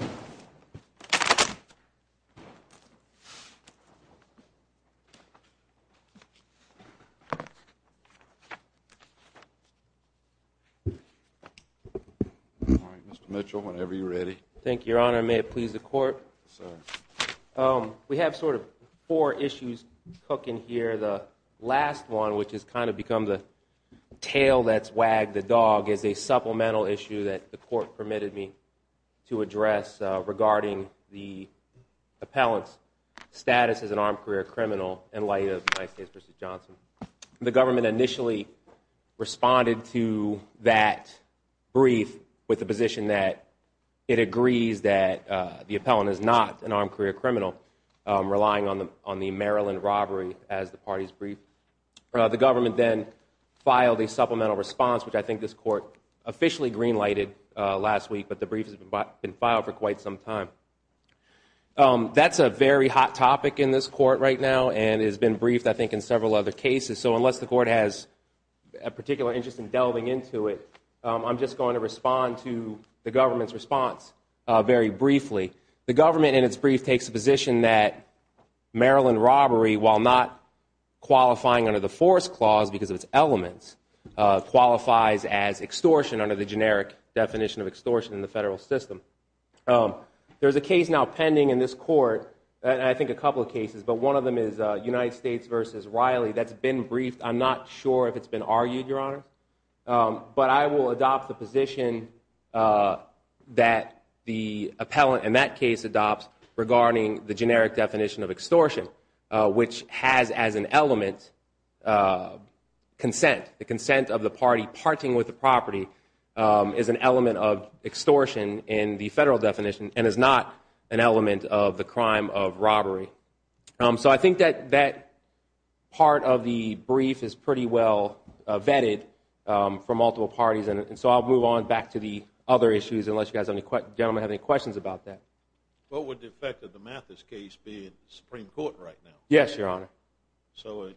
All right, Mr. Mitchell, whenever you're ready. Thank you, Your Honor. May it please the Court? Yes, sir. We have sort of four issues cooking here. The last one, which has kind of become the tail that's wagged the dog, is a supplemental issue that the Court permitted me to address regarding the appellant's status as an armed career criminal in light of the United States v. Johnson. The government initially responded to that brief with the position that it agrees that the appellant is not an armed career criminal, relying on the Maryland robbery as the party's brief. The government then filed a supplemental response, which I think this Court officially green-lighted last week. But the brief has been filed for quite some time. That's a very hot topic in this Court right now and has been briefed, I think, in several other cases. So unless the Court has a particular interest in delving into it, I'm just going to respond to the government's response very briefly. The government, in its brief, takes the position that Maryland robbery, while not qualifying under the force clause because of its elements, qualifies as extortion under the generic definition of extortion in the federal system. There's a case now pending in this Court, and I think a couple of cases, but one of them is United States v. Riley. That's been briefed. I'm not sure if it's been argued, Your Honor. But I will adopt the position that the appellant in that case adopts regarding the generic definition of extortion, which has as an element consent. The consent of the party parting with the property is an element of extortion in the federal definition and is not an element of the crime of robbery. So I think that that part of the brief is pretty well vetted for multiple parties, and so I'll move on back to the other issues, unless you gentlemen have any questions about that. What would the effect of the Mathis case be in the Supreme Court right now? Yes, Your Honor. So,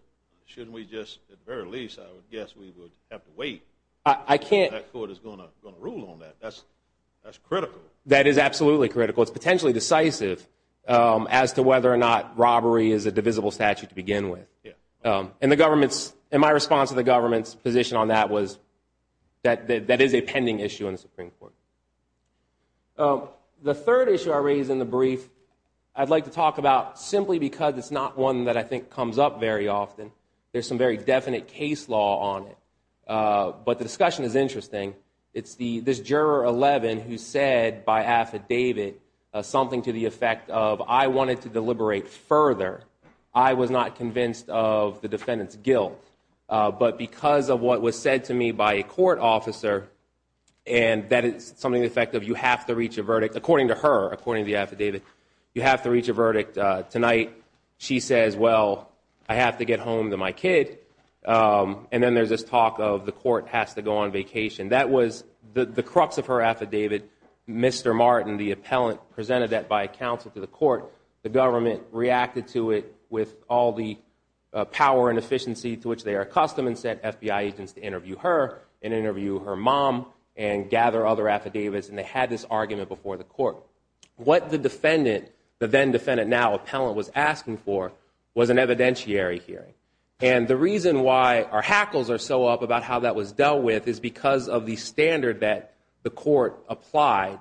shouldn't we just, at the very least, I would guess we would have to wait. I can't. That Court is going to rule on that. That's critical. That is absolutely critical. It's potentially decisive as to whether or not robbery is a divisible statute to begin with. And the government's, in my response to the government's position on that was that that is a pending issue in the Supreme Court. The third issue I raised in the brief, I'd like to talk about simply because it's not one that I think comes up very often. There's some very definite case law on it. But the discussion is interesting. It's this Juror 11 who said by affidavit something to the effect of, I wanted to deliberate further. I was not convinced of the defendant's guilt. But because of what was said to me by a court officer, and that is something to the effect of you have to reach a verdict, according to her, according to the affidavit, you have to reach a verdict tonight. She says, well, I have to get home to my kid. And then there's this talk of the Court has to go on vacation. That was the crux of her affidavit. Mr. Martin, the appellant, presented that by counsel to the Court. The government reacted to it with all the power and efficiency to which they are accustomed and sent FBI agents to interview her and interview her mom and gather other affidavits. And they had this argument before the Court. What the defendant, the then defendant now appellant, was asking for was an evidentiary hearing. And the reason why our hackles are so up about how that was dealt with is because of the standard that the Court applied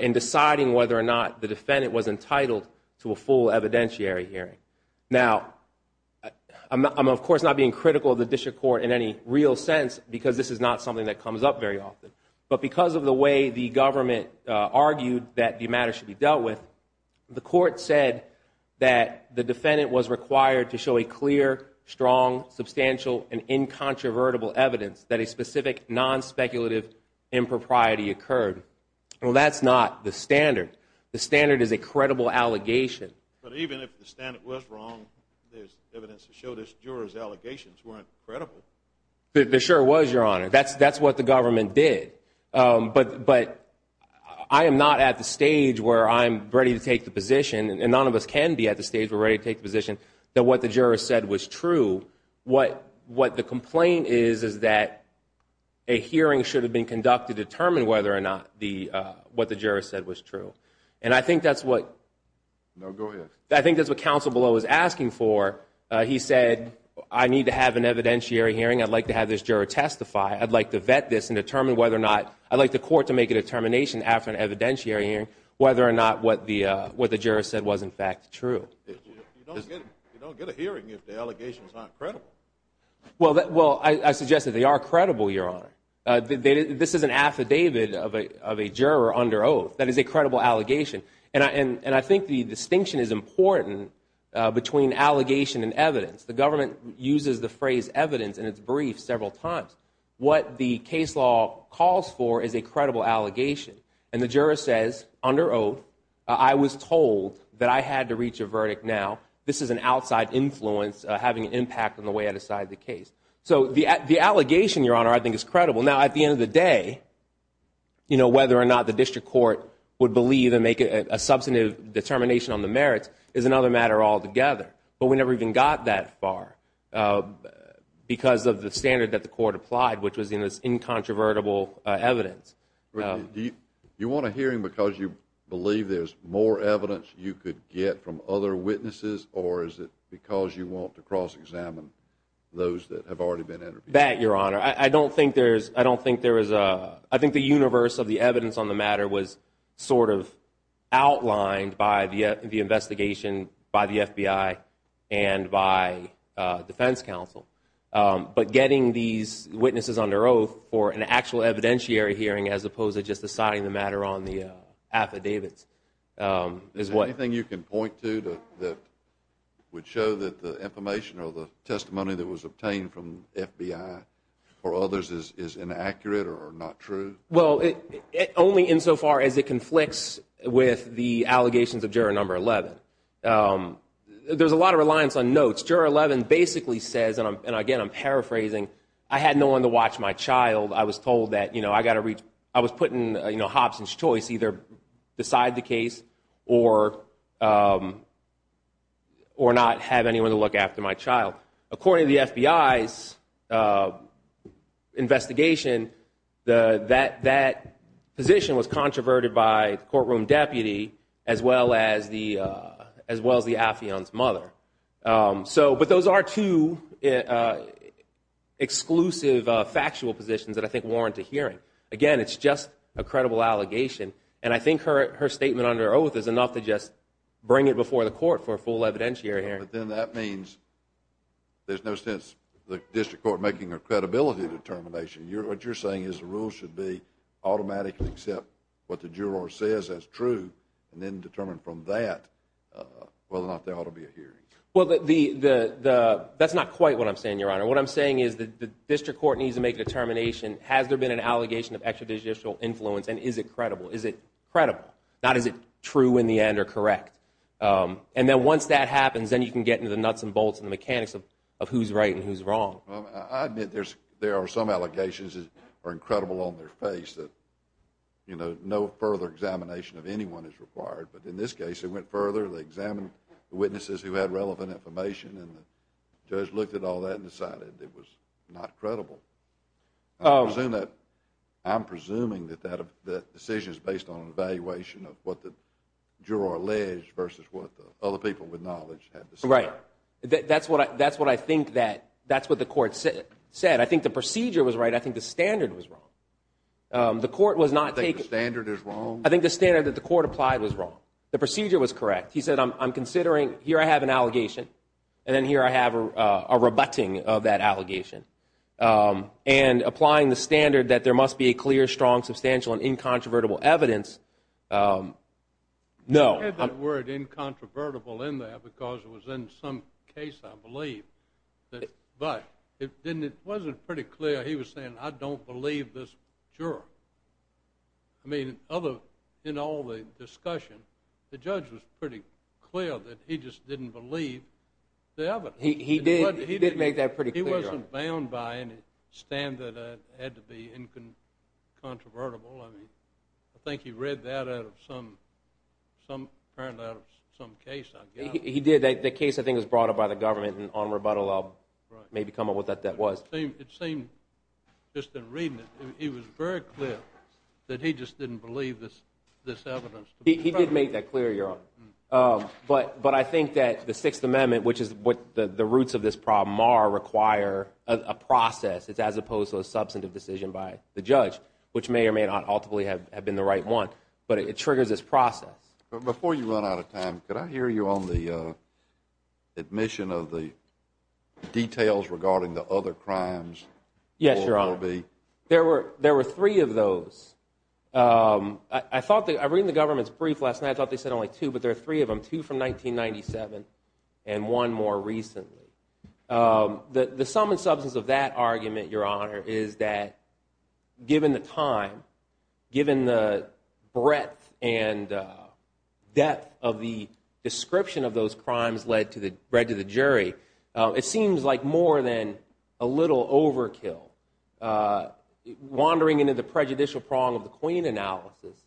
in deciding whether or not the defendant was entitled to a full evidentiary hearing. Now, I'm of course not being critical of the District Court in any real sense, because this is not something that comes up very often. But because of the way the government argued that the matter should be dealt with, the strong, substantial, and incontrovertible evidence that a specific, non-speculative impropriety occurred, well, that's not the standard. The standard is a credible allegation. But even if the standard was wrong, there's evidence to show this juror's allegations weren't credible. There sure was, Your Honor. That's what the government did. But I am not at the stage where I'm ready to take the position, and none of us can be at the stage where we're ready to take the position, that what the juror said was true. What the complaint is, is that a hearing should have been conducted to determine whether or not what the juror said was true. And I think that's what – No, go ahead. I think that's what Counsel Below was asking for. He said, I need to have an evidentiary hearing. I'd like to have this juror testify. I'd like to vet this and determine whether or not – I'd like the Court to make a determination after an evidentiary hearing whether or not what the juror said was in You don't get a hearing if the allegations aren't credible. Well, I suggest that they are credible, Your Honor. This is an affidavit of a juror under oath. That is a credible allegation. And I think the distinction is important between allegation and evidence. The government uses the phrase evidence in its briefs several times. What the case law calls for is a credible allegation. And the juror says, under oath, I was told that I had to reach a verdict now. This is an outside influence having an impact on the way I decide the case. So the allegation, Your Honor, I think is credible. Now, at the end of the day, you know, whether or not the District Court would believe and make a substantive determination on the merits is another matter altogether. But we never even got that far because of the standard that the Court applied, which was in this incontrovertible evidence. You want a hearing because you believe there's more evidence you could get from other witnesses or is it because you want to cross-examine those that have already been interviewed? That, Your Honor. I don't think there is, I don't think there is a, I think the universe of the evidence on the matter was sort of outlined by the investigation by the FBI and by defense counsel. But getting these witnesses under oath for an actual evidentiary hearing as opposed to just deciding the matter on the affidavits is what. Is there anything you can point to that would show that the information or the testimony that was obtained from the FBI or others is inaccurate or not true? Well, only insofar as it conflicts with the allegations of Juror Number 11. There's a lot of reliance on notes. Juror 11 basically says, and again I'm paraphrasing, I had no one to watch my child. I was told that I was putting Hobson's choice either beside the case or not have anyone to look after my child. According to the FBI's investigation, that position was controverted by the courtroom deputy as well as the, as well as the affion's mother. So but those are two exclusive factual positions that I think warrant a hearing. Again, it's just a credible allegation and I think her statement under oath is enough to just bring it before the court for a full evidentiary hearing. But then that means there's no sense the district court making a credibility determination. What you're saying is the rules should be automatically accept what the juror says as true and then determine from that whether or not there ought to be a hearing. Well, that's not quite what I'm saying, Your Honor. What I'm saying is that the district court needs to make a determination, has there been an allegation of extrajudicial influence and is it credible? Is it credible? Not is it true in the end or correct? And then once that happens, then you can get into the nuts and bolts and the mechanics of who's right and who's wrong. Well, I admit there are some allegations that are incredible on their face that, you know, no further examination of anyone is required. But in this case, it went further, they examined the witnesses who had relevant information and the judge looked at all that and decided it was not credible. I'm presuming that that decision is based on an evaluation of what the juror alleged versus what the other people with knowledge had to say. Right. That's what I think that, that's what the court said. I think the procedure was right, I think the standard was wrong. The court was not taking... You think the standard is wrong? I think the standard that the court applied was wrong. The procedure was correct. He said, I'm considering, here I have an allegation and then here I have a rebutting of that allegation. And applying the standard that there must be a clear, strong, substantial and incontrovertible evidence, no. I had that word incontrovertible in there because it was in some case, I believe, but it wasn't pretty clear he was saying, I don't believe this juror. I mean, in all the discussion, the judge was pretty clear that he just didn't believe the evidence. He did, he did make that pretty clear. He wasn't bound by any standard that had to be incontrovertible, I mean, I think he read that out of some case, I guess. He did. The case, I think, was brought up by the government on rebuttal, I'll maybe come up with what that was. It seemed, just in reading it, it was very clear that he just didn't believe this evidence. He did make that clear, Your Honor. But I think that the Sixth Amendment, which is what the roots of this problem are, require a process as opposed to a substantive decision by the judge, which may or may not ultimately have been the right one. But it triggers this process. But before you run out of time, could I hear you on the admission of the details regarding the other crimes? Yes, Your Honor. Or will be? There were three of those. I thought, I read in the government's brief last night, I thought they said only two, but there are three of them, two from 1997 and one more recently. The sum and substance of that argument, Your Honor, is that given the time, given the breadth and depth of the description of those crimes read to the jury, it seems like more than a little overkill, wandering into the prejudicial prong of the Queen analysis.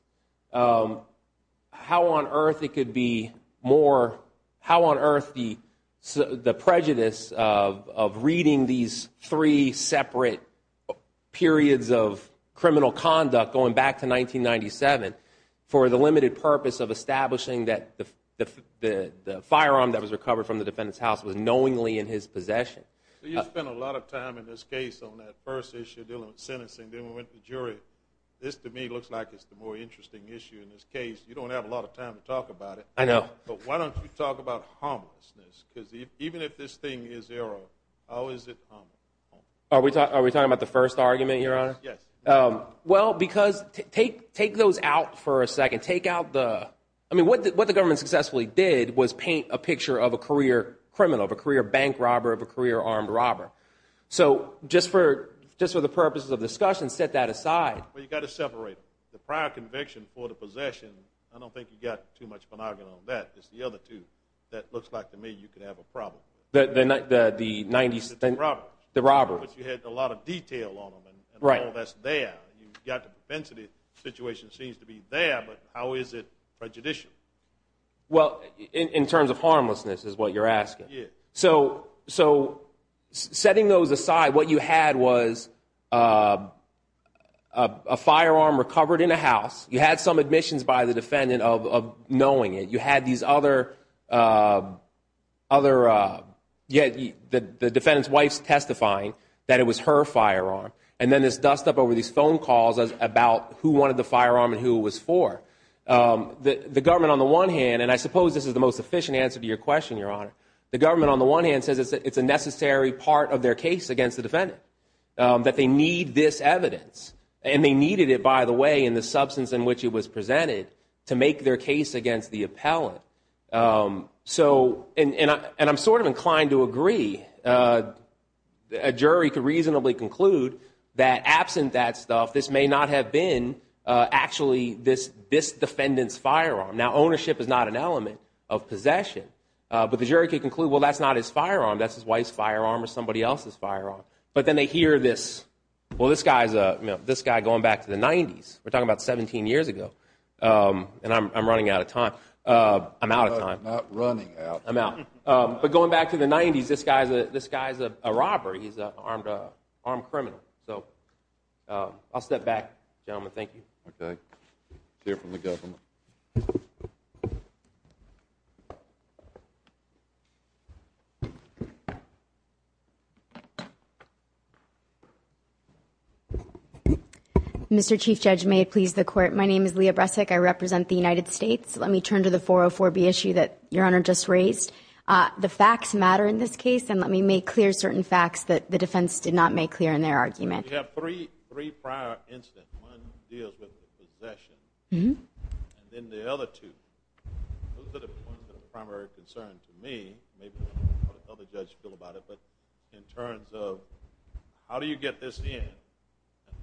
How on earth it could be more, how on earth the prejudice of reading these three separate periods of criminal conduct going back to 1997 for the limited purpose of establishing that the firearm that was recovered from the defendant's house was knowingly in his possession? You spent a lot of time in this case on that first issue dealing with sentencing, then we went to jury. This, to me, looks like it's the more interesting issue in this case. You don't have a lot of time to talk about it. I know. But why don't you talk about harmlessness? Because even if this thing is erroneous, how is it harmless? Are we talking about the first argument, Your Honor? Yes. Well, because take those out for a second. Take out the, I mean, what the government successfully did was paint a picture of a career criminal, of a career bank robber, of a career armed robber. So just for the purposes of discussion, set that aside. Well, you've got to separate them. The prior conviction for the possession, I don't think you've got too much monogamy on that. It's the other two. That looks like, to me, you could have a problem. The 90s? The robbers. The robbers. But you had a lot of detail on them and all that's there. You've got the propensity situation seems to be there, but how is it prejudicial? Well, in terms of harmlessness is what you're asking. So setting those aside, what you had was a firearm recovered in a house. You had some admissions by the defendant of knowing it. You had these other, the defendant's wife's testifying that it was her firearm. And then this dust up over these phone calls about who wanted the firearm and who it was for. The government, on the one hand, and I suppose this is the most efficient answer to your The government, on the one hand, says it's a necessary part of their case against the defendant, that they need this evidence. And they needed it, by the way, in the substance in which it was presented to make their case against the appellant. So and I'm sort of inclined to agree. A jury could reasonably conclude that absent that stuff, this may not have been actually this defendant's firearm. Now, ownership is not an element of possession, but the jury could conclude, well, that's not his firearm. That's his wife's firearm or somebody else's firearm. But then they hear this, well, this guy's going back to the 90s. We're talking about 17 years ago. And I'm running out of time. I'm out of time. I'm not running out. I'm out. But going back to the 90s, this guy's a robber. He's an armed criminal. So I'll step back, gentlemen. Thank you. Okay. We'll hear from the government. Mr. Chief Judge, may it please the Court, my name is Leah Bresek. I represent the United States. Let me turn to the 404B issue that Your Honor just raised. The facts matter in this case. And let me make clear certain facts that the defense did not make clear in their argument. We have three prior incidents. One deals with possession. And then the other two. Those are the primary concerns to me. Maybe other judges feel about it. But in terms of how do you get this in,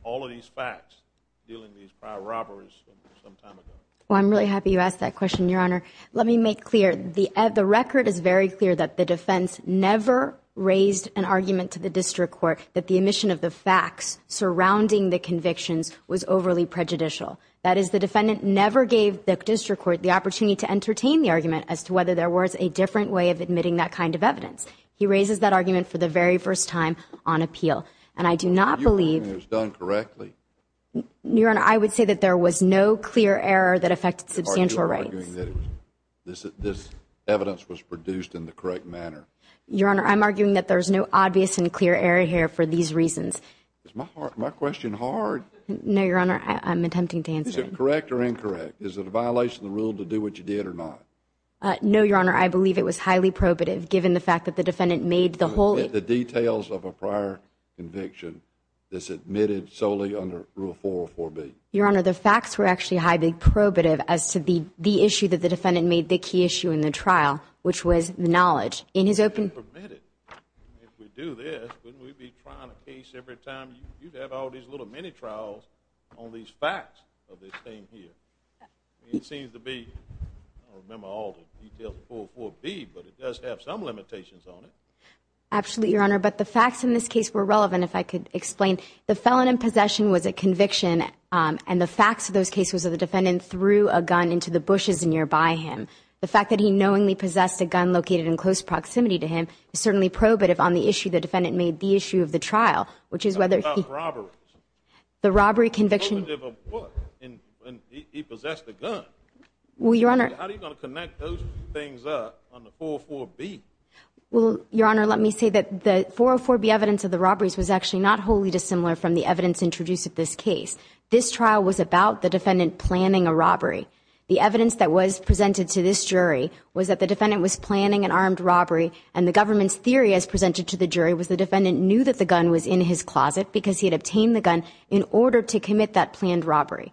all of these facts dealing with these prior robberies sometime ago? Well, I'm really happy you asked that question, Your Honor. Let me make clear, the record is very clear that the defense never raised an argument to the district court that the omission of the facts surrounding the convictions was overly prejudicial. That is, the defendant never gave the district court the opportunity to entertain the argument as to whether there was a different way of admitting that kind of evidence. He raises that argument for the very first time on appeal. And I do not believe— You're arguing it was done correctly? Your Honor, I would say that there was no clear error that affected substantial rights. You're arguing that this evidence was produced in the correct manner? Your Honor, I'm arguing that there's no obvious and clear error here for these reasons. Is my question hard? No, Your Honor. I'm attempting to answer it. Is it correct or incorrect? Is it a violation of the rule to do what you did or not? No, Your Honor. I believe it was highly probative, given the fact that the defendant made the whole— The details of a prior conviction that's admitted solely under Rule 404B? Your Honor, the facts were actually highly probative as to the issue that the defendant made the key issue in the trial, which was knowledge. In his open— If we do this, wouldn't we be trying a case every time? You'd have all these little mini-trials on these facts of this thing here. It seems to be—I don't remember all the details of 404B, but it does have some limitations on it. Absolutely, Your Honor. But the facts in this case were relevant, if I could explain. The felon in possession was a conviction, and the facts of those cases are the defendant threw a gun into the bushes nearby him. The fact that he knowingly possessed a gun located in close proximity to him is certainly probative on the issue the defendant made the issue of the trial, which is whether— How about robberies? The robbery conviction— Probative of what? He possessed a gun. Well, Your Honor— How are you going to connect those two things up on the 404B? Well, Your Honor, let me say that the 404B evidence of the robberies was actually not wholly dissimilar from the evidence introduced at this case. This trial was about the defendant planning a robbery. The evidence that was presented to this jury was that the defendant was planning an armed robbery, and the government's theory as presented to the jury was the defendant knew that the gun was in his closet because he had obtained the gun in order to commit that planned robbery.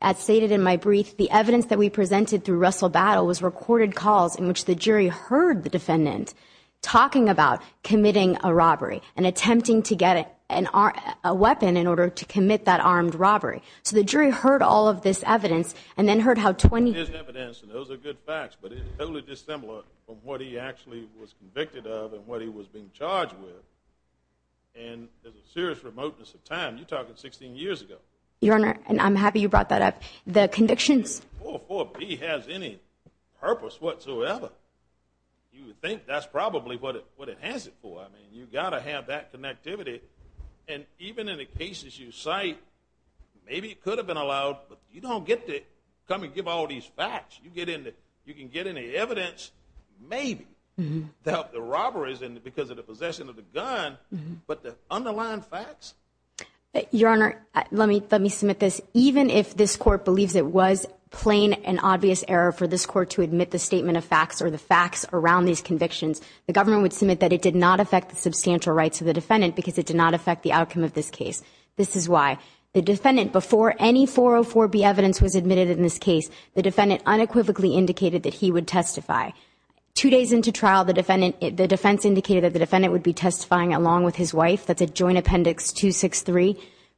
As stated in my brief, the evidence that we presented through Russell Battle was recorded calls in which the jury heard the defendant talking about committing a robbery and attempting to get a weapon in order to commit that armed robbery. So the jury heard all of this evidence and then heard how— There's evidence, and those are good facts, but it's totally dissimilar from what he actually was convicted of and what he was being charged with. And there's a serious remoteness of time. You're talking 16 years ago. Your Honor, and I'm happy you brought that up, the convictions— The 404B has any purpose whatsoever. You would think that's probably what it has it for. I mean, you've got to have that connectivity. And even in the cases you cite, maybe it could have been allowed, but you don't get to come and give all these facts. You can get any evidence, maybe, to help the robberies because of the possession of the gun, but the underlying facts— Your Honor, let me submit this. Even if this Court believes it was plain and obvious error for this Court to admit the statement of facts or the facts around these convictions, the government would submit that it did not affect the substantial rights of the defendant because it did not affect the outcome of this case. This is why. The defendant, before any 404B evidence was admitted in this case, the defendant unequivocally indicated that he would testify. Two days into trial, the defense indicated that the defendant would be testifying along with his wife. That's at Joint Appendix 263.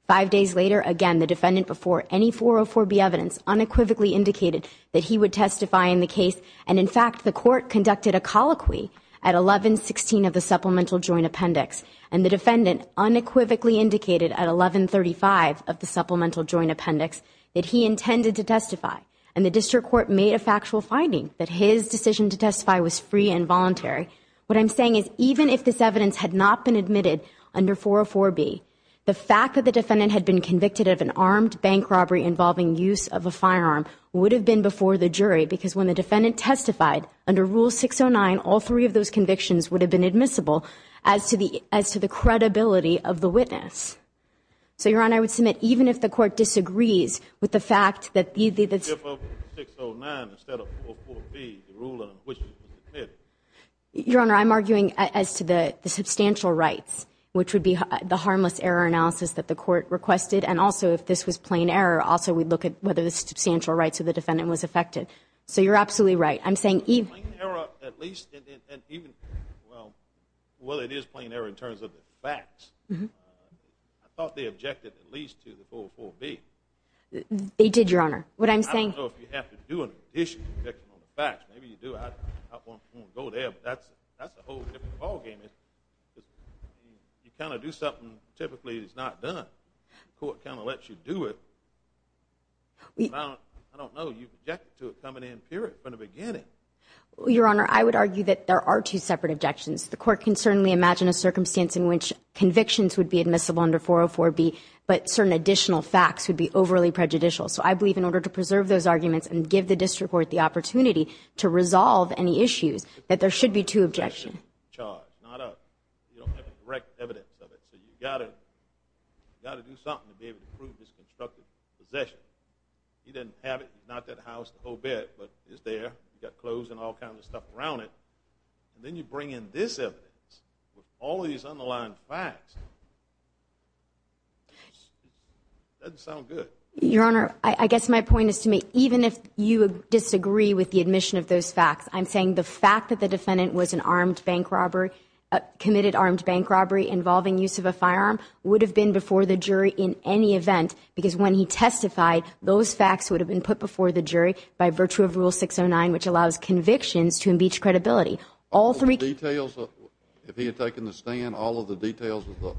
Five days later, again, the defendant, before any 404B evidence, unequivocally indicated that he would testify in the case. And, in fact, the Court conducted a colloquy at 1116 of the Supplemental Joint Appendix and the defendant unequivocally indicated at 1135 of the Supplemental Joint Appendix that he intended to testify. And the District Court made a factual finding that his decision to testify was free and voluntary. What I'm saying is, even if this evidence had not been admitted under 404B, the fact that the defendant had been convicted of an armed bank robbery involving use of a firearm would have been before the jury, because when the defendant testified under Rule 609, all three of those convictions would have been admissible as to the credibility of the witness. So, Your Honor, I would submit even if the Court disagrees with the fact that either the... If 609 instead of 404B, the ruling on which it was admitted. Your Honor, I'm arguing as to the substantial rights, which would be the harmless error analysis that the Court requested. And also, if this was plain error, also we'd look at whether the substantial rights of the defendant was affected. So you're absolutely right. I'm saying even... Plain error, at least, and even... Well, it is plain error in terms of the facts. I thought they objected at least to the 404B. They did, Your Honor. What I'm saying... I don't know if you have to do an issue to object on the facts. Maybe you do. I won't go there, but that's a whole different ballgame. You kind of do something typically that's not done. The Court kind of lets you do it. I don't know. You've objected to it coming in, period, from the beginning. Well, Your Honor, I would argue that there are two separate objections. The Court can certainly imagine a circumstance in which convictions would be admissible under 404B, but certain additional facts would be overly prejudicial. So I believe in order to preserve those arguments and give the District Court the opportunity to resolve any issues, that there should be two objections. Not a direct evidence of it. So you've got to do something to be able to prove this constructive possession. He didn't have it. It's not that house, the whole bit, but it's there. You've got clothes and all kinds of stuff around it. And then you bring in this evidence with all these underlying facts. It doesn't sound good. Your Honor, I guess my point is to make... Even if you disagree with the admission of those facts, I'm saying the fact that the defendant committed armed bank robbery involving use of a firearm would have been before the jury in any event, because when he testified, those facts would have been put before the jury by virtue of Rule 609, which allows convictions to imbeach credibility. All three... All the details? If he had taken the stand, all of the details of the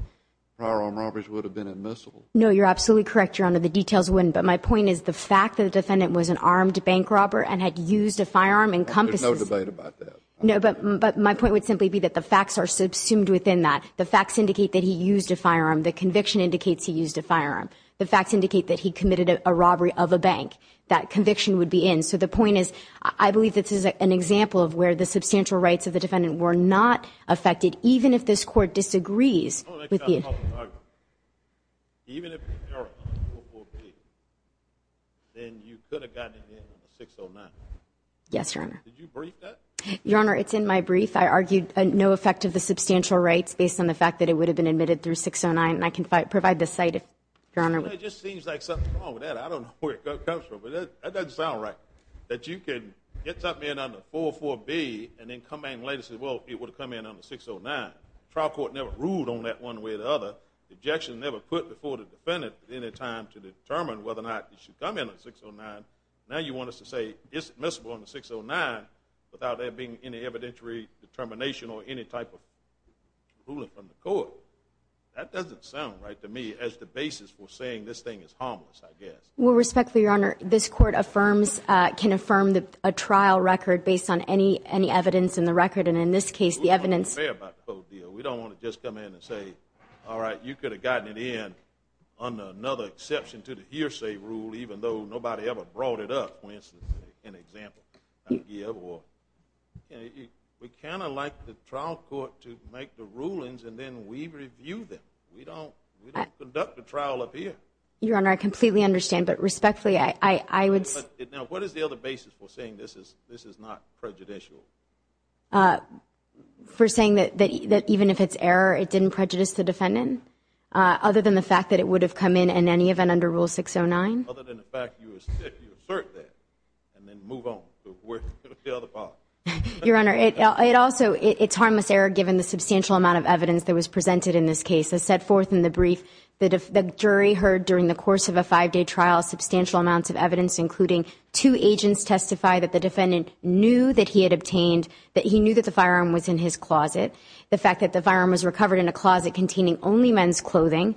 firearm robberies would have been admissible? No, you're absolutely correct, Your Honor. The details wouldn't. But my point is the fact that the defendant was an armed bank robber and had used a firearm encompasses... There's no debate about that. No, but my point would simply be that the facts are subsumed within that. The facts indicate that he used a firearm. The conviction indicates he used a firearm. The facts indicate that he committed a robbery of a bank. That conviction would be in. So the point is, I believe this is an example of where the substantial rights of the defendant were not affected, even if this Court disagrees with the... Oh, that's not a problem. Even if the error on Rule 408, then you could have gotten it in 609. Yes, Your Honor. Did you brief that? Your Honor, it's in my brief. I argued no effect of the substantial rights based on the fact that it would have been admitted through 609. And I can provide the cite, Your Honor. It just seems like something's wrong with that. I don't know where it comes from. But that doesn't sound right. That you can get something in under 404B and then come back later and say, well, it would have come in under 609. The trial court never ruled on that one way or the other. The objection never put before the defendant at any time to determine whether or not it should come in under 609. Now you want us to say it's admissible under 609 without there being any evidentiary determination or any type of ruling from the court. That doesn't sound right to me as the basis for saying this thing is harmless, I guess. Well, respectfully, Your Honor, this Court affirms, can affirm a trial record based on any evidence in the record. And in this case, the evidence... We don't want to compare about the code deal. We don't want to just come in and say, all right, you could have gotten it in under another exception to the hearsay rule, even though nobody ever brought it up when it's an example. We kind of like the trial court to make the rulings and then we review them. We don't conduct a trial up here. Your Honor, I completely understand. But respectfully, I would say... Now, what is the other basis for saying this is not prejudicial? For saying that even if it's error, it didn't prejudice the defendant? Other than the fact that it would have come in in any event under Rule 609? Other than the fact that you assert that and then move on to the other part. Your Honor, it also... It's harmless error given the substantial amount of evidence that was presented in this case. As set forth in the brief, the jury heard during the course of a five-day trial substantial amounts of evidence, including two agents testify that the defendant knew that he had obtained... That he knew that the firearm was in his closet. The fact that the firearm was recovered in a closet containing only men's clothing,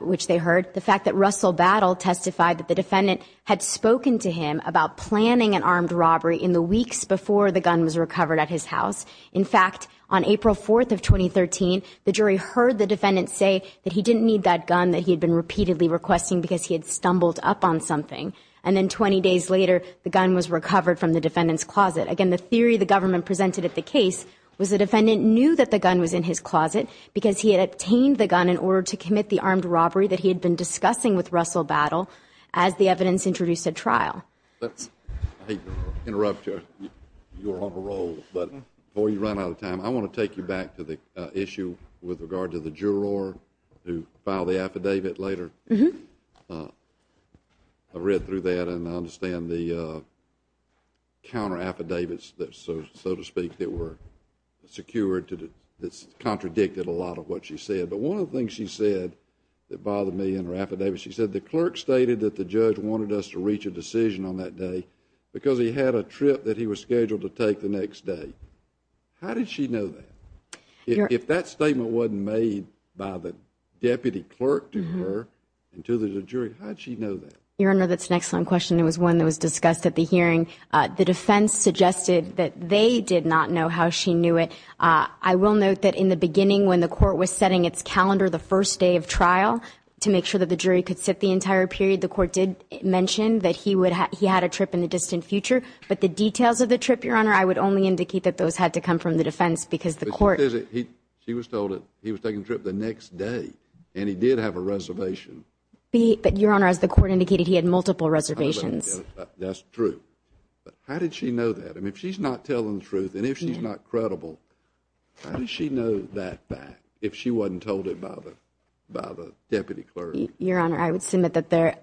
which they heard. The fact that Russell Battle testified that the defendant had spoken to him about planning an armed robbery in the weeks before the gun was recovered at his house. In fact, on April 4th of 2013, the jury heard the defendant say that he didn't need that gun that he had been repeatedly requesting because he had stumbled up on something. Again, the theory the government presented at the case was the defendant knew that the gun was in his closet because he had obtained the gun in order to commit the armed robbery that he had been discussing with Russell Battle as the evidence introduced at trial. Let's... I hate to interrupt you. You are on parole. But before you run out of time, I want to take you back to the issue with regard to the juror who filed the affidavit later. Mm-hmm. I read through that and I understand the counter affidavits, so to speak, that were secured that contradicted a lot of what she said. But one of the things she said that bothered me in her affidavit, she said the clerk stated that the judge wanted us to reach a decision on that day because he had a trip that he was scheduled to take the next day. How did she know that? If that statement wasn't made by the deputy clerk to her and to the jury, how did she know that? Your Honor, that's an excellent question. It was one that was discussed at the hearing. The defense suggested that they did not know how she knew it. I will note that in the beginning, when the court was setting its calendar the first day of trial to make sure that the jury could sit the entire period, the court did mention that he had a trip in the distant future. But the details of the trip, Your Honor, I would only indicate that those had to come from the defense because the court... She was told that he was taking a trip the next day and he did have a reservation. But, Your Honor, as the court indicated, he had multiple reservations. That's true. How did she know that? I mean, if she's not telling the truth and if she's not credible, how did she know that back if she wasn't told it by the deputy clerk? Your Honor, I would submit that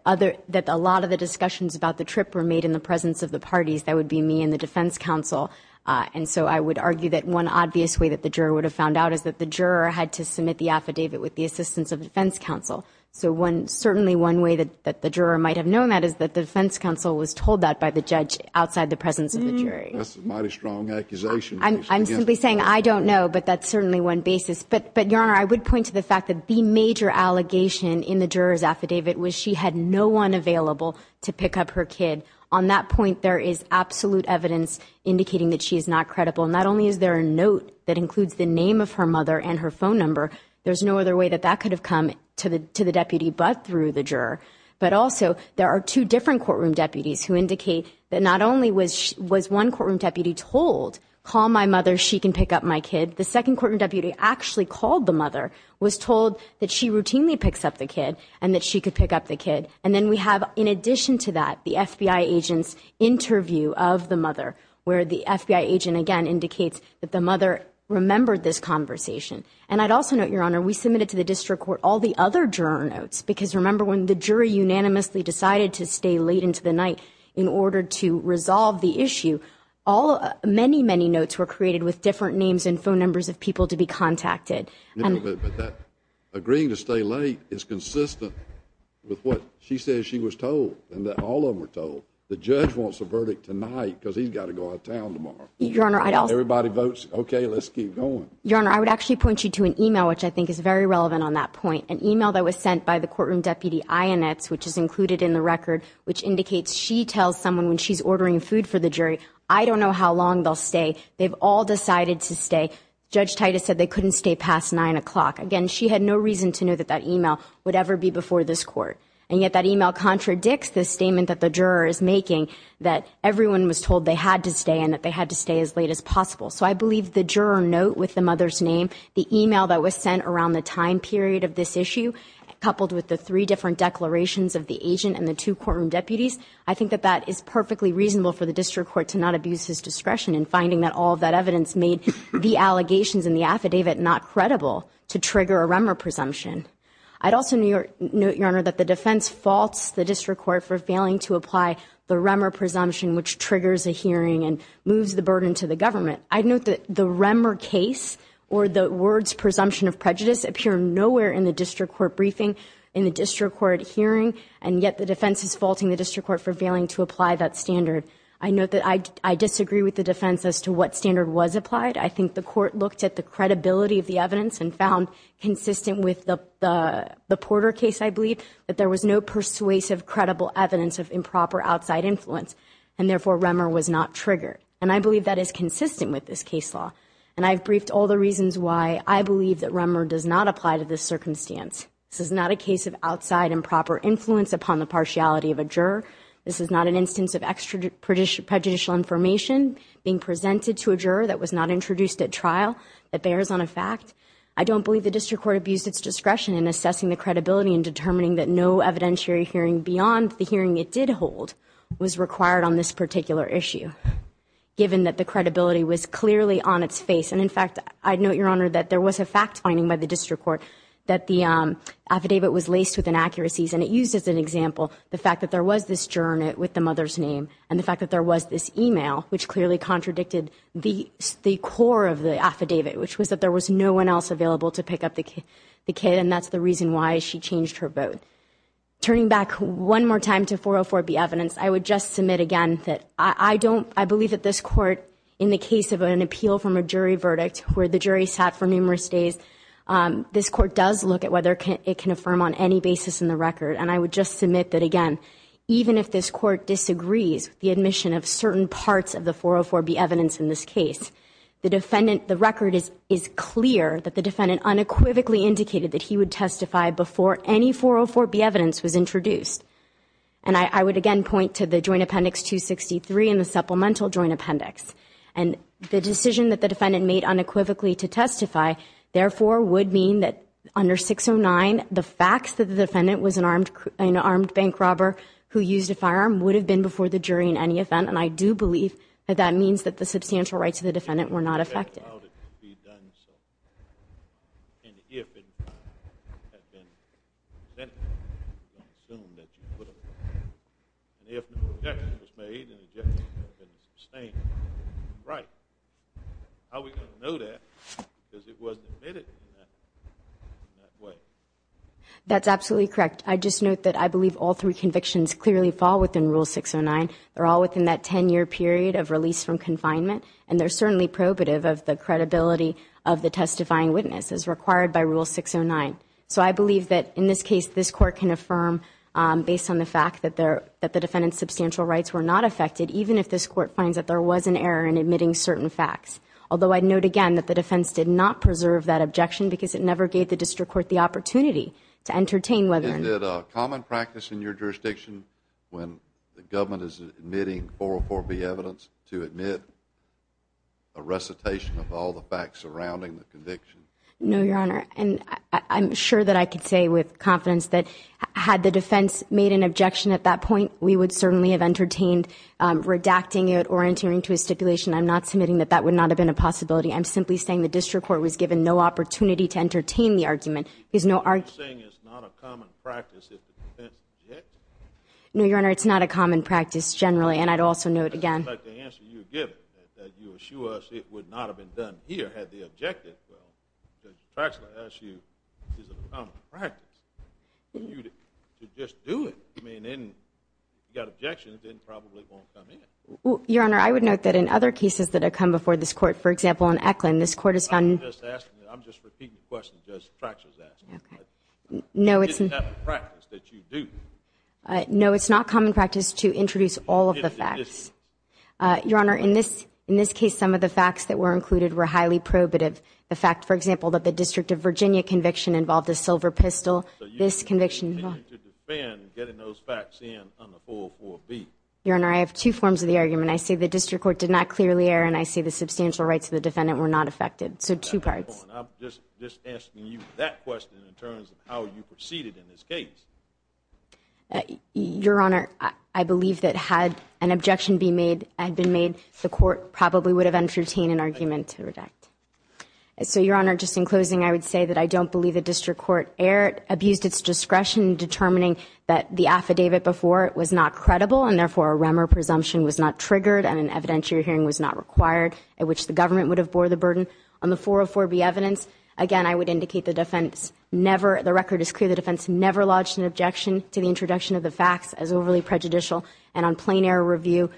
a lot of the discussions about the trip were made in the presence of the parties. That would be me and the defense counsel. And so I would argue that one obvious way that the juror would have found out is that the juror had to submit the affidavit with the assistance of the defense counsel. So certainly one way that the juror might have known that is that the defense counsel was told that by the judge outside the presence of the jury. That's a mighty strong accusation. I'm simply saying I don't know, but that's certainly one basis. But, Your Honor, I would point to the fact that the major allegation in the juror's affidavit was she had no one available to pick up her kid. On that point, there is absolute evidence indicating that she is not credible. And not only is there a note that includes the name of her mother and her phone number, there's no other way that that could have come to the deputy but through the juror. But also, there are two different courtroom deputies who indicate that not only was one courtroom deputy told, call my mother, she can pick up my kid. The second courtroom deputy actually called the mother was told that she routinely picks up the kid and that she could pick up the kid. And then we have, in addition to that, the FBI agent's interview of the mother where the FBI agent, again, indicates that the mother remembered this conversation. And I'd also note, Your Honor, we submitted to the district court all the other juror notes because remember when the jury unanimously decided to stay late into the night in order to resolve the issue, many, many notes were created with different names and phone numbers of people to be contacted. Agreeing to stay late is consistent with what she says she was told and that all of them were told. The judge wants a verdict tonight because he's got to go out of town tomorrow. Everybody votes, okay, let's keep going. Your Honor, I would actually point you to an email which I think is very relevant on that point. An email that was sent by the courtroom deputy, which is included in the record, which indicates she tells someone when she's ordering food for the jury, I don't know how long they'll stay. They've all decided to stay. Judge Titus said they couldn't stay past 9 o'clock. Again, she had no reason to know that that email would ever be before this court. And yet that email contradicts the statement that the juror is making that everyone was told they had to stay and that they had to stay as late as possible. So I believe the juror note with the mother's name, the email that was sent around the time period of this issue coupled with the three different declarations of the agent and the two courtroom deputies, I think that that is perfectly reasonable for the district court to not abuse his discretion in finding that all of that evidence made the allegations in the affidavit not credible to trigger a Remmer presumption. I'd also note, Your Honor, that the defense faults the district court for failing to apply the Remmer presumption which triggers a hearing and moves the burden to the government. I'd note that the Remmer case or the words presumption of prejudice appear nowhere in the district court briefing, in the district court hearing, and yet the defense is faulting the district court for failing to apply that standard. I note that I disagree with the defense as to what standard was applied. I think the court looked at the credibility of the evidence and found, consistent with the Porter case, I believe, that there was no persuasive credible evidence of improper outside influence and therefore Remmer was not triggered. And I believe that is consistent with this case law. And I've briefed all the reasons why I believe that Remmer does not apply to this circumstance. This is not a case of outside improper influence upon the partiality of a juror. This is not an instance of extra prejudicial information being presented to a juror that was not introduced at trial that bears on a fact. I don't believe the district court abused its discretion in assessing the credibility in determining that no evidentiary hearing beyond the hearing it did hold was required on this particular issue given that the credibility was clearly on its face. And in fact, I'd note, Your Honor, that there was a fact finding by the district court that the affidavit was laced with inaccuracies and it used as an example the fact that there was this journal with the mother's name and the fact that there was this email which clearly contradicted the core of the affidavit which was that there was no one else available to pick up the kid and that's the reason why she changed her vote. Turning back one more time to 404B evidence, I would just submit again that I believe that this court in the case of an appeal from a jury verdict where the jury sat for numerous days this court does look at whether it can affirm on any basis in the record and I would just submit that again even if this court disagrees with the admission of certain parts of the 404B evidence in this case the record is clear that the defendant unequivocally indicated that he would testify before any 404B evidence was introduced. And I would again point to the Joint Appendix 263 and the Supplemental Joint Appendix and the decision that the defendant made unequivocally to testify therefore would mean that under 609 the facts that the defendant was an armed bank robber who used a firearm would have been before the jury in any event and I do believe that that means that the substantial rights of the defendant were not affected. That's absolutely correct. I'd just note that I believe all three convictions clearly fall within Rule 609. They're all within that 10 year period of release from confinement and they're certainly probative of the credibility of the testifying witness as required by Rule 609. So I believe that in this case this court can affirm based on the fact that the defendant's substantial rights were not affected even if this court finds that there was an error in admitting certain facts. Although I'd note again that the defense did not preserve that objection because it never gave the district court the opportunity to entertain whether... Is it a common practice in your jurisdiction when the government is admitting 404B evidence to admit a recitation of all the facts surrounding the conviction? No, Your Honor. And I'm sure that I can say with confidence that had the defense made an objection at that point we would certainly have entertained redacting it or entering into a stipulation. I'm not submitting that that would not have been a possibility. I'm simply saying the district court was given no opportunity to entertain the argument. There's no... Are you saying it's not a common practice if the defense objected? No, Your Honor. It's not a common practice generally and I'd also note again... I'd like to answer your given that you assure us it would not have been done here had the objective, well, the facts I ask you, is a common practice for you to just do it. I mean, if you've got objections then probably it won't come in. Your Honor, I would note that in other cases that have come before this court, for example, in Eklund, this court has found... I'm just asking, I'm just repeating the question Judge Tratcher's asking. Okay. No, it's... It's not a practice that you do. No, it's not common practice to introduce all of the facts. Your Honor, in this case some of the facts that were included were highly probative. The fact, for example, that the District of Virginia conviction involved a silver pistol, this conviction... So you continue to defend getting those facts in under 404B. Your Honor, I have two forms of the argument. I say the district court did not clearly err, and I say the substantial rights of the defendant were not affected. So two parts. I'm just asking you that question in terms of how you proceeded in this case. Your Honor, I believe that had an objection be made, had been made, the court probably would have entertained an argument to redact. So, Your Honor, just in closing I would say that I don't believe the district court erred, abused its discretion in determining that the affidavit before it was not credible, and therefore a Remmer presumption was not triggered, and an evidentiary hearing was not required, at which the government would have bore the burden. On the 404B evidence, again, I would indicate the defense never, the record is clear, the defense never lodged an objection to the introduction of the facts as overly prejudicial, and on plain error review,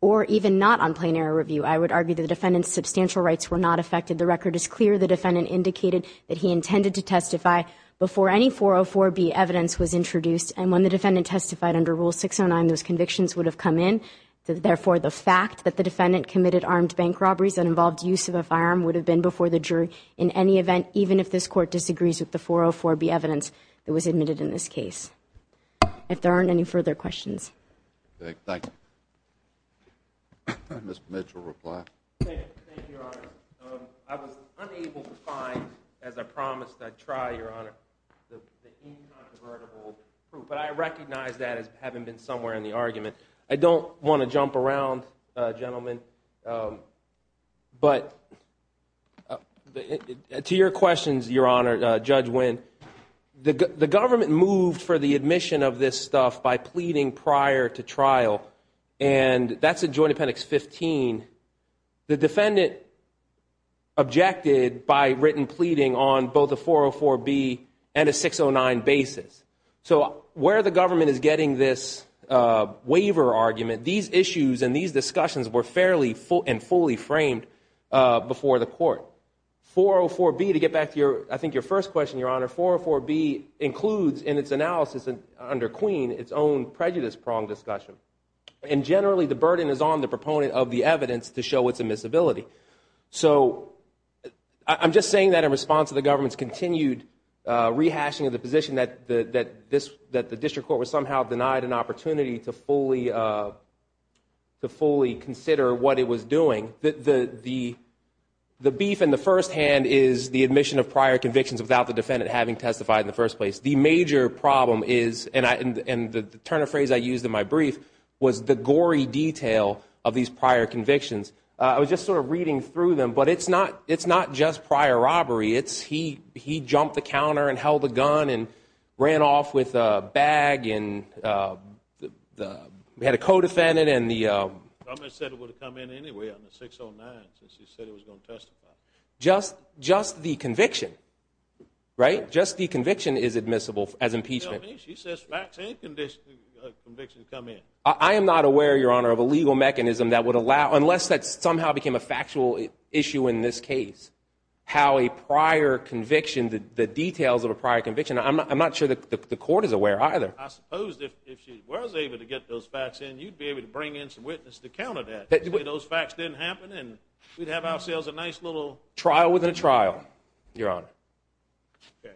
or even not on plain error review, I would argue the defendant's substantial rights were not affected. The record is clear. The defendant indicated that he intended to testify before any 404B evidence was introduced, and when the defendant testified under Rule 609, those convictions would have come in. Therefore, the fact that the defendant committed armed bank robberies that involved use of a firearm would have been before the jury in any event, even if this court disagrees with the 404B evidence that was admitted in this case. If there aren't any further questions. Thank you. Mr. Mitchell, reply. Thank you, Your Honor. I was unable to find, as I promised I'd try, Your Honor, the incontrovertible proof, but I recognize that as having been somewhere in the argument. I don't want to jump around, gentlemen, but to your questions, Your Honor, Judge Winn, the government moved for the admission of this stuff by pleading prior to trial, and that's in Joint Appendix 15. The defendant objected by written pleading on both a 404B and a 609 basis. So where the government is getting this waiver argument, these issues and these discussions were fairly and fully framed before the court. 404B, to get back to your, I think your first question, Your Honor, 404B includes in its analysis under Queen, its own prejudice-pronged discussion, and generally the burden is on the proponent of the evidence to show its admissibility. I'm just saying that in response to the government's continued rehashing of the position that the district court was somehow denied an opportunity to fully consider what it was doing. The beef in the first hand is the admission of prior convictions without the defendant having testified in the first place. The major problem is, and the turn of phrase I used in my brief, was the gory detail of these prior convictions. I was just sort of reading through them, but it's not just prior robbery, it's he jumped the counter and held a gun and ran off with a bag and had a co-defendant and the... I said it would have come in anyway on the 609 since you said it was going to testify. Just the conviction, right? Just the conviction is admissible as impeachment. She says facts and conviction come in. I am not aware, Your Honor, of a legal mechanism that would allow, unless that somehow became a factual issue in this case, how a prior conviction, the details of a prior conviction, I'm not sure the court is aware either. I suppose if she was able to get those facts in, you'd be able to bring in some witnesses to counter that. Those facts didn't happen and we'd have ourselves a nice little... Trial within a trial, Your Honor. Okay.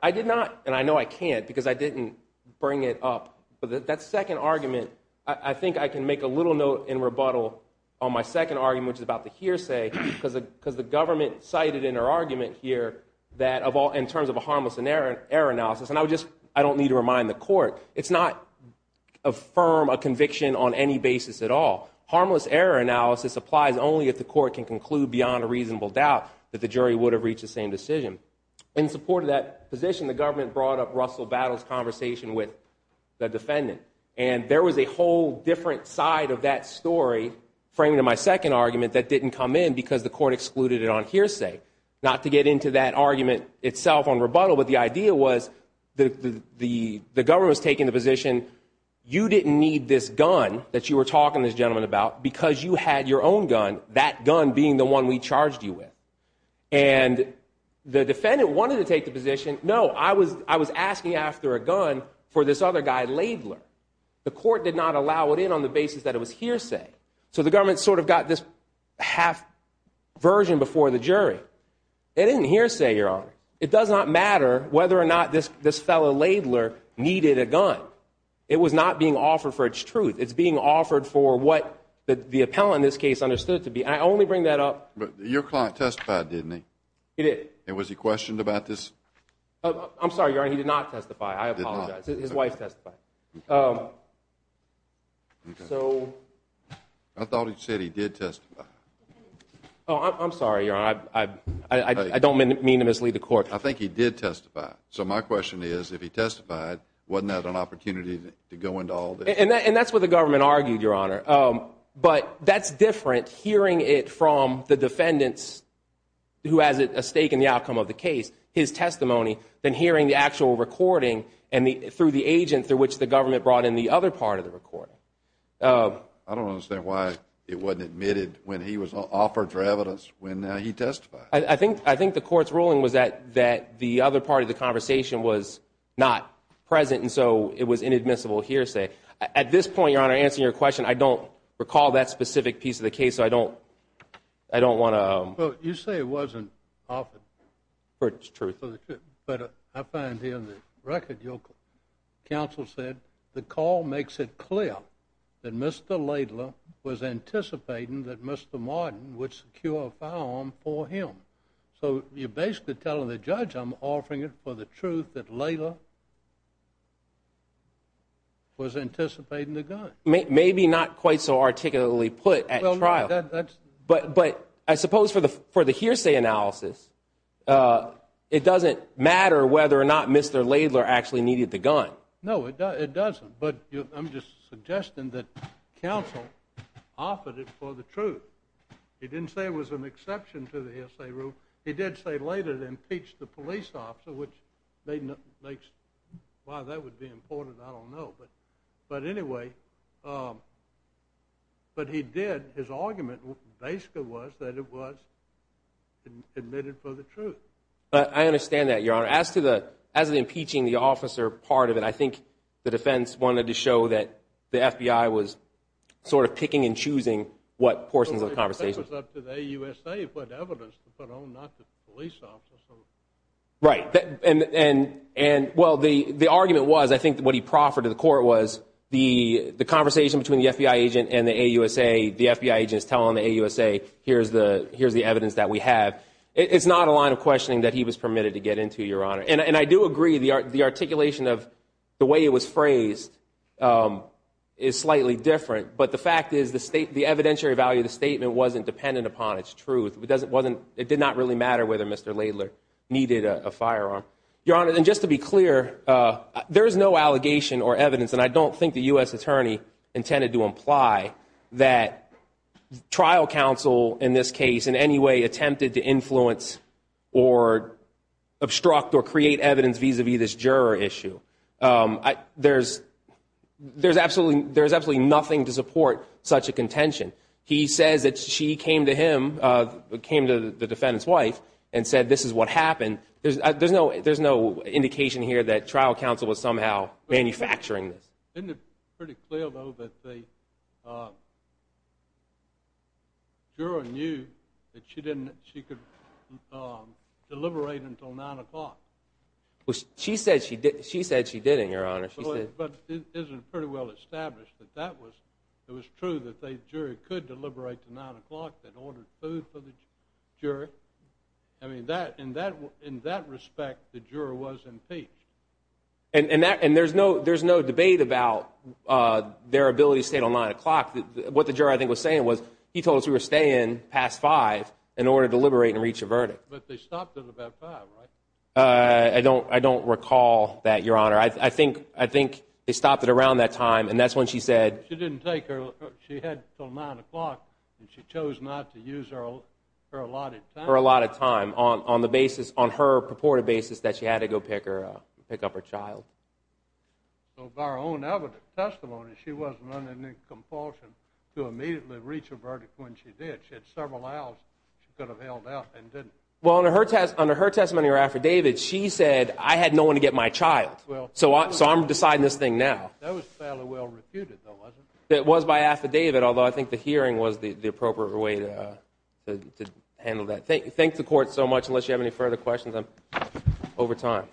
I did not, and I know I can't because I didn't bring it up, but that second argument, I think I can make a little note in rebuttal on my second argument which is about the hearsay because the government cited in her argument here that in terms of a harmless error analysis, and I would just, I don't need to remind the court, it's not a firm, a conviction on any basis at all. Harmless error analysis applies only if the court can conclude beyond a reasonable doubt that the jury would have reached the same decision. In support of that position, the government brought up Russell Battle's conversation with the defendant, and there was a whole different side of that story framed in my second argument that didn't come in because the court excluded it on hearsay. Not to get into that argument itself on rebuttal, but the idea was that the government was taking the position you didn't need this gun that you were talking to this gentleman about because you had your own gun, that gun being the one we charged you with. And the defendant wanted to take the position, no, I was talking to this other guy, Laidler. The court did not allow it in on the basis that it was hearsay. So the government sort of got this half version before the jury. It didn't hearsay, Your Honor. It does not matter whether or not this fellow Laidler needed a gun. It was not being offered for its truth. It's being offered for what the appellant in this case understood it to be, and I only bring that up. But your client testified, didn't he? He did. And was he questioned about this? I'm sorry, Your Honor, he did not testify. I apologize. His wife testified. So... I thought he said he did testify. Oh, I'm sorry, Your Honor. I don't mean to mislead the court. I think he did testify. So my question is, if he testified, wasn't that an opportunity to go into all this? And that's what the government argued, Your Honor. But that's different hearing it from the defendant's, who has a stake in the outcome of the case, his testimony, than hearing the actual recording through the agent through which the government brought in the other part of the recording. I don't understand why it wasn't admitted when he was offered for evidence when he testified. I think the court's ruling was that the other part of the conversation was not present, and so it was inadmissible hearsay. At this point, Your Honor, answering your question, I don't recall that specific piece of the case, so I don't want to... But you say he wasn't offered for the truth. But I find here in the record, counsel said, the call makes it clear that Mr. Laidlaw was anticipating that Mr. Martin would secure a firearm for him. So you're basically telling the judge, I'm offering it for the truth that Laidlaw was anticipating the gun. Maybe not quite so articulately put at trial. But I suppose for the hearsay analysis, it doesn't matter whether or not Mr. Laidlaw actually needed the gun. No, it doesn't. But I'm just suggesting that counsel offered it for the truth. He didn't say it was an exception to the hearsay rule. He did say later it impeached the police officer, which makes... Why that would be important, I don't know. But anyway, but he did. His argument basically was that it was admitted for the truth. I understand that, Your Honor. As to the impeaching the officer part of it, I think the defense wanted to show that the FBI was sort of picking and choosing what portions of the conversation. But that was up to the USA to put evidence to put on not the police officer. Right. And well, the argument was, I think what he proffered to the court was the conversation between the FBI agent and the AUSA, the FBI agents telling the AUSA here's the evidence that we have. It's not a line of questioning that he was permitted to get into, Your Honor. And I do agree the articulation of the way it was phrased is slightly different. But the fact is the evidentiary value of the statement wasn't dependent upon its truth. It did not really matter whether Mr. Laidlaw needed a firearm. Your Honor, and just to be clear, there is no allegation or evidence, and I don't think the U.S. attorney intended to imply that trial counsel in this case in any way attempted to influence or obstruct or create evidence vis-a-vis this juror issue. There's absolutely nothing to support such a contention. He says that she came to him, came to the defendant's wife and said this is what happened. There's no indication here that trial counsel was somehow manufacturing this. Isn't it pretty clear, though, that the juror knew that she could deliberate until 9 o'clock? She said she didn't, Your Honor. But isn't it pretty well established that it was true that the jury could deliberate to 9 o'clock and order food for the jury? In that respect, the juror was impeached. There's no debate about their ability to stay until 9 o'clock. What the juror, I think, was saying was he told us we were staying past 5 in order to deliberate and reach a verdict. But they stopped at about 5, right? I don't recall that, Your Honor. I think they stopped it around that time, and that's when she said She didn't take her, she had until 9 o'clock, and she chose not to use her allotted time on the basis, on her purported basis, that she had to go pick up her child. So by her own testimony, she wasn't under any compulsion to immediately reach a verdict when she did. She had several hours she could have held out and didn't. Well, under her testimony or affidavit, she said, I had no one to get my child. So I'm deciding this thing now. That was fairly well refuted, though, wasn't it? It was by affidavit, although I think the hearing was the appropriate way to handle that. Thank the Court so much. Unless you have any further questions, I'm over time.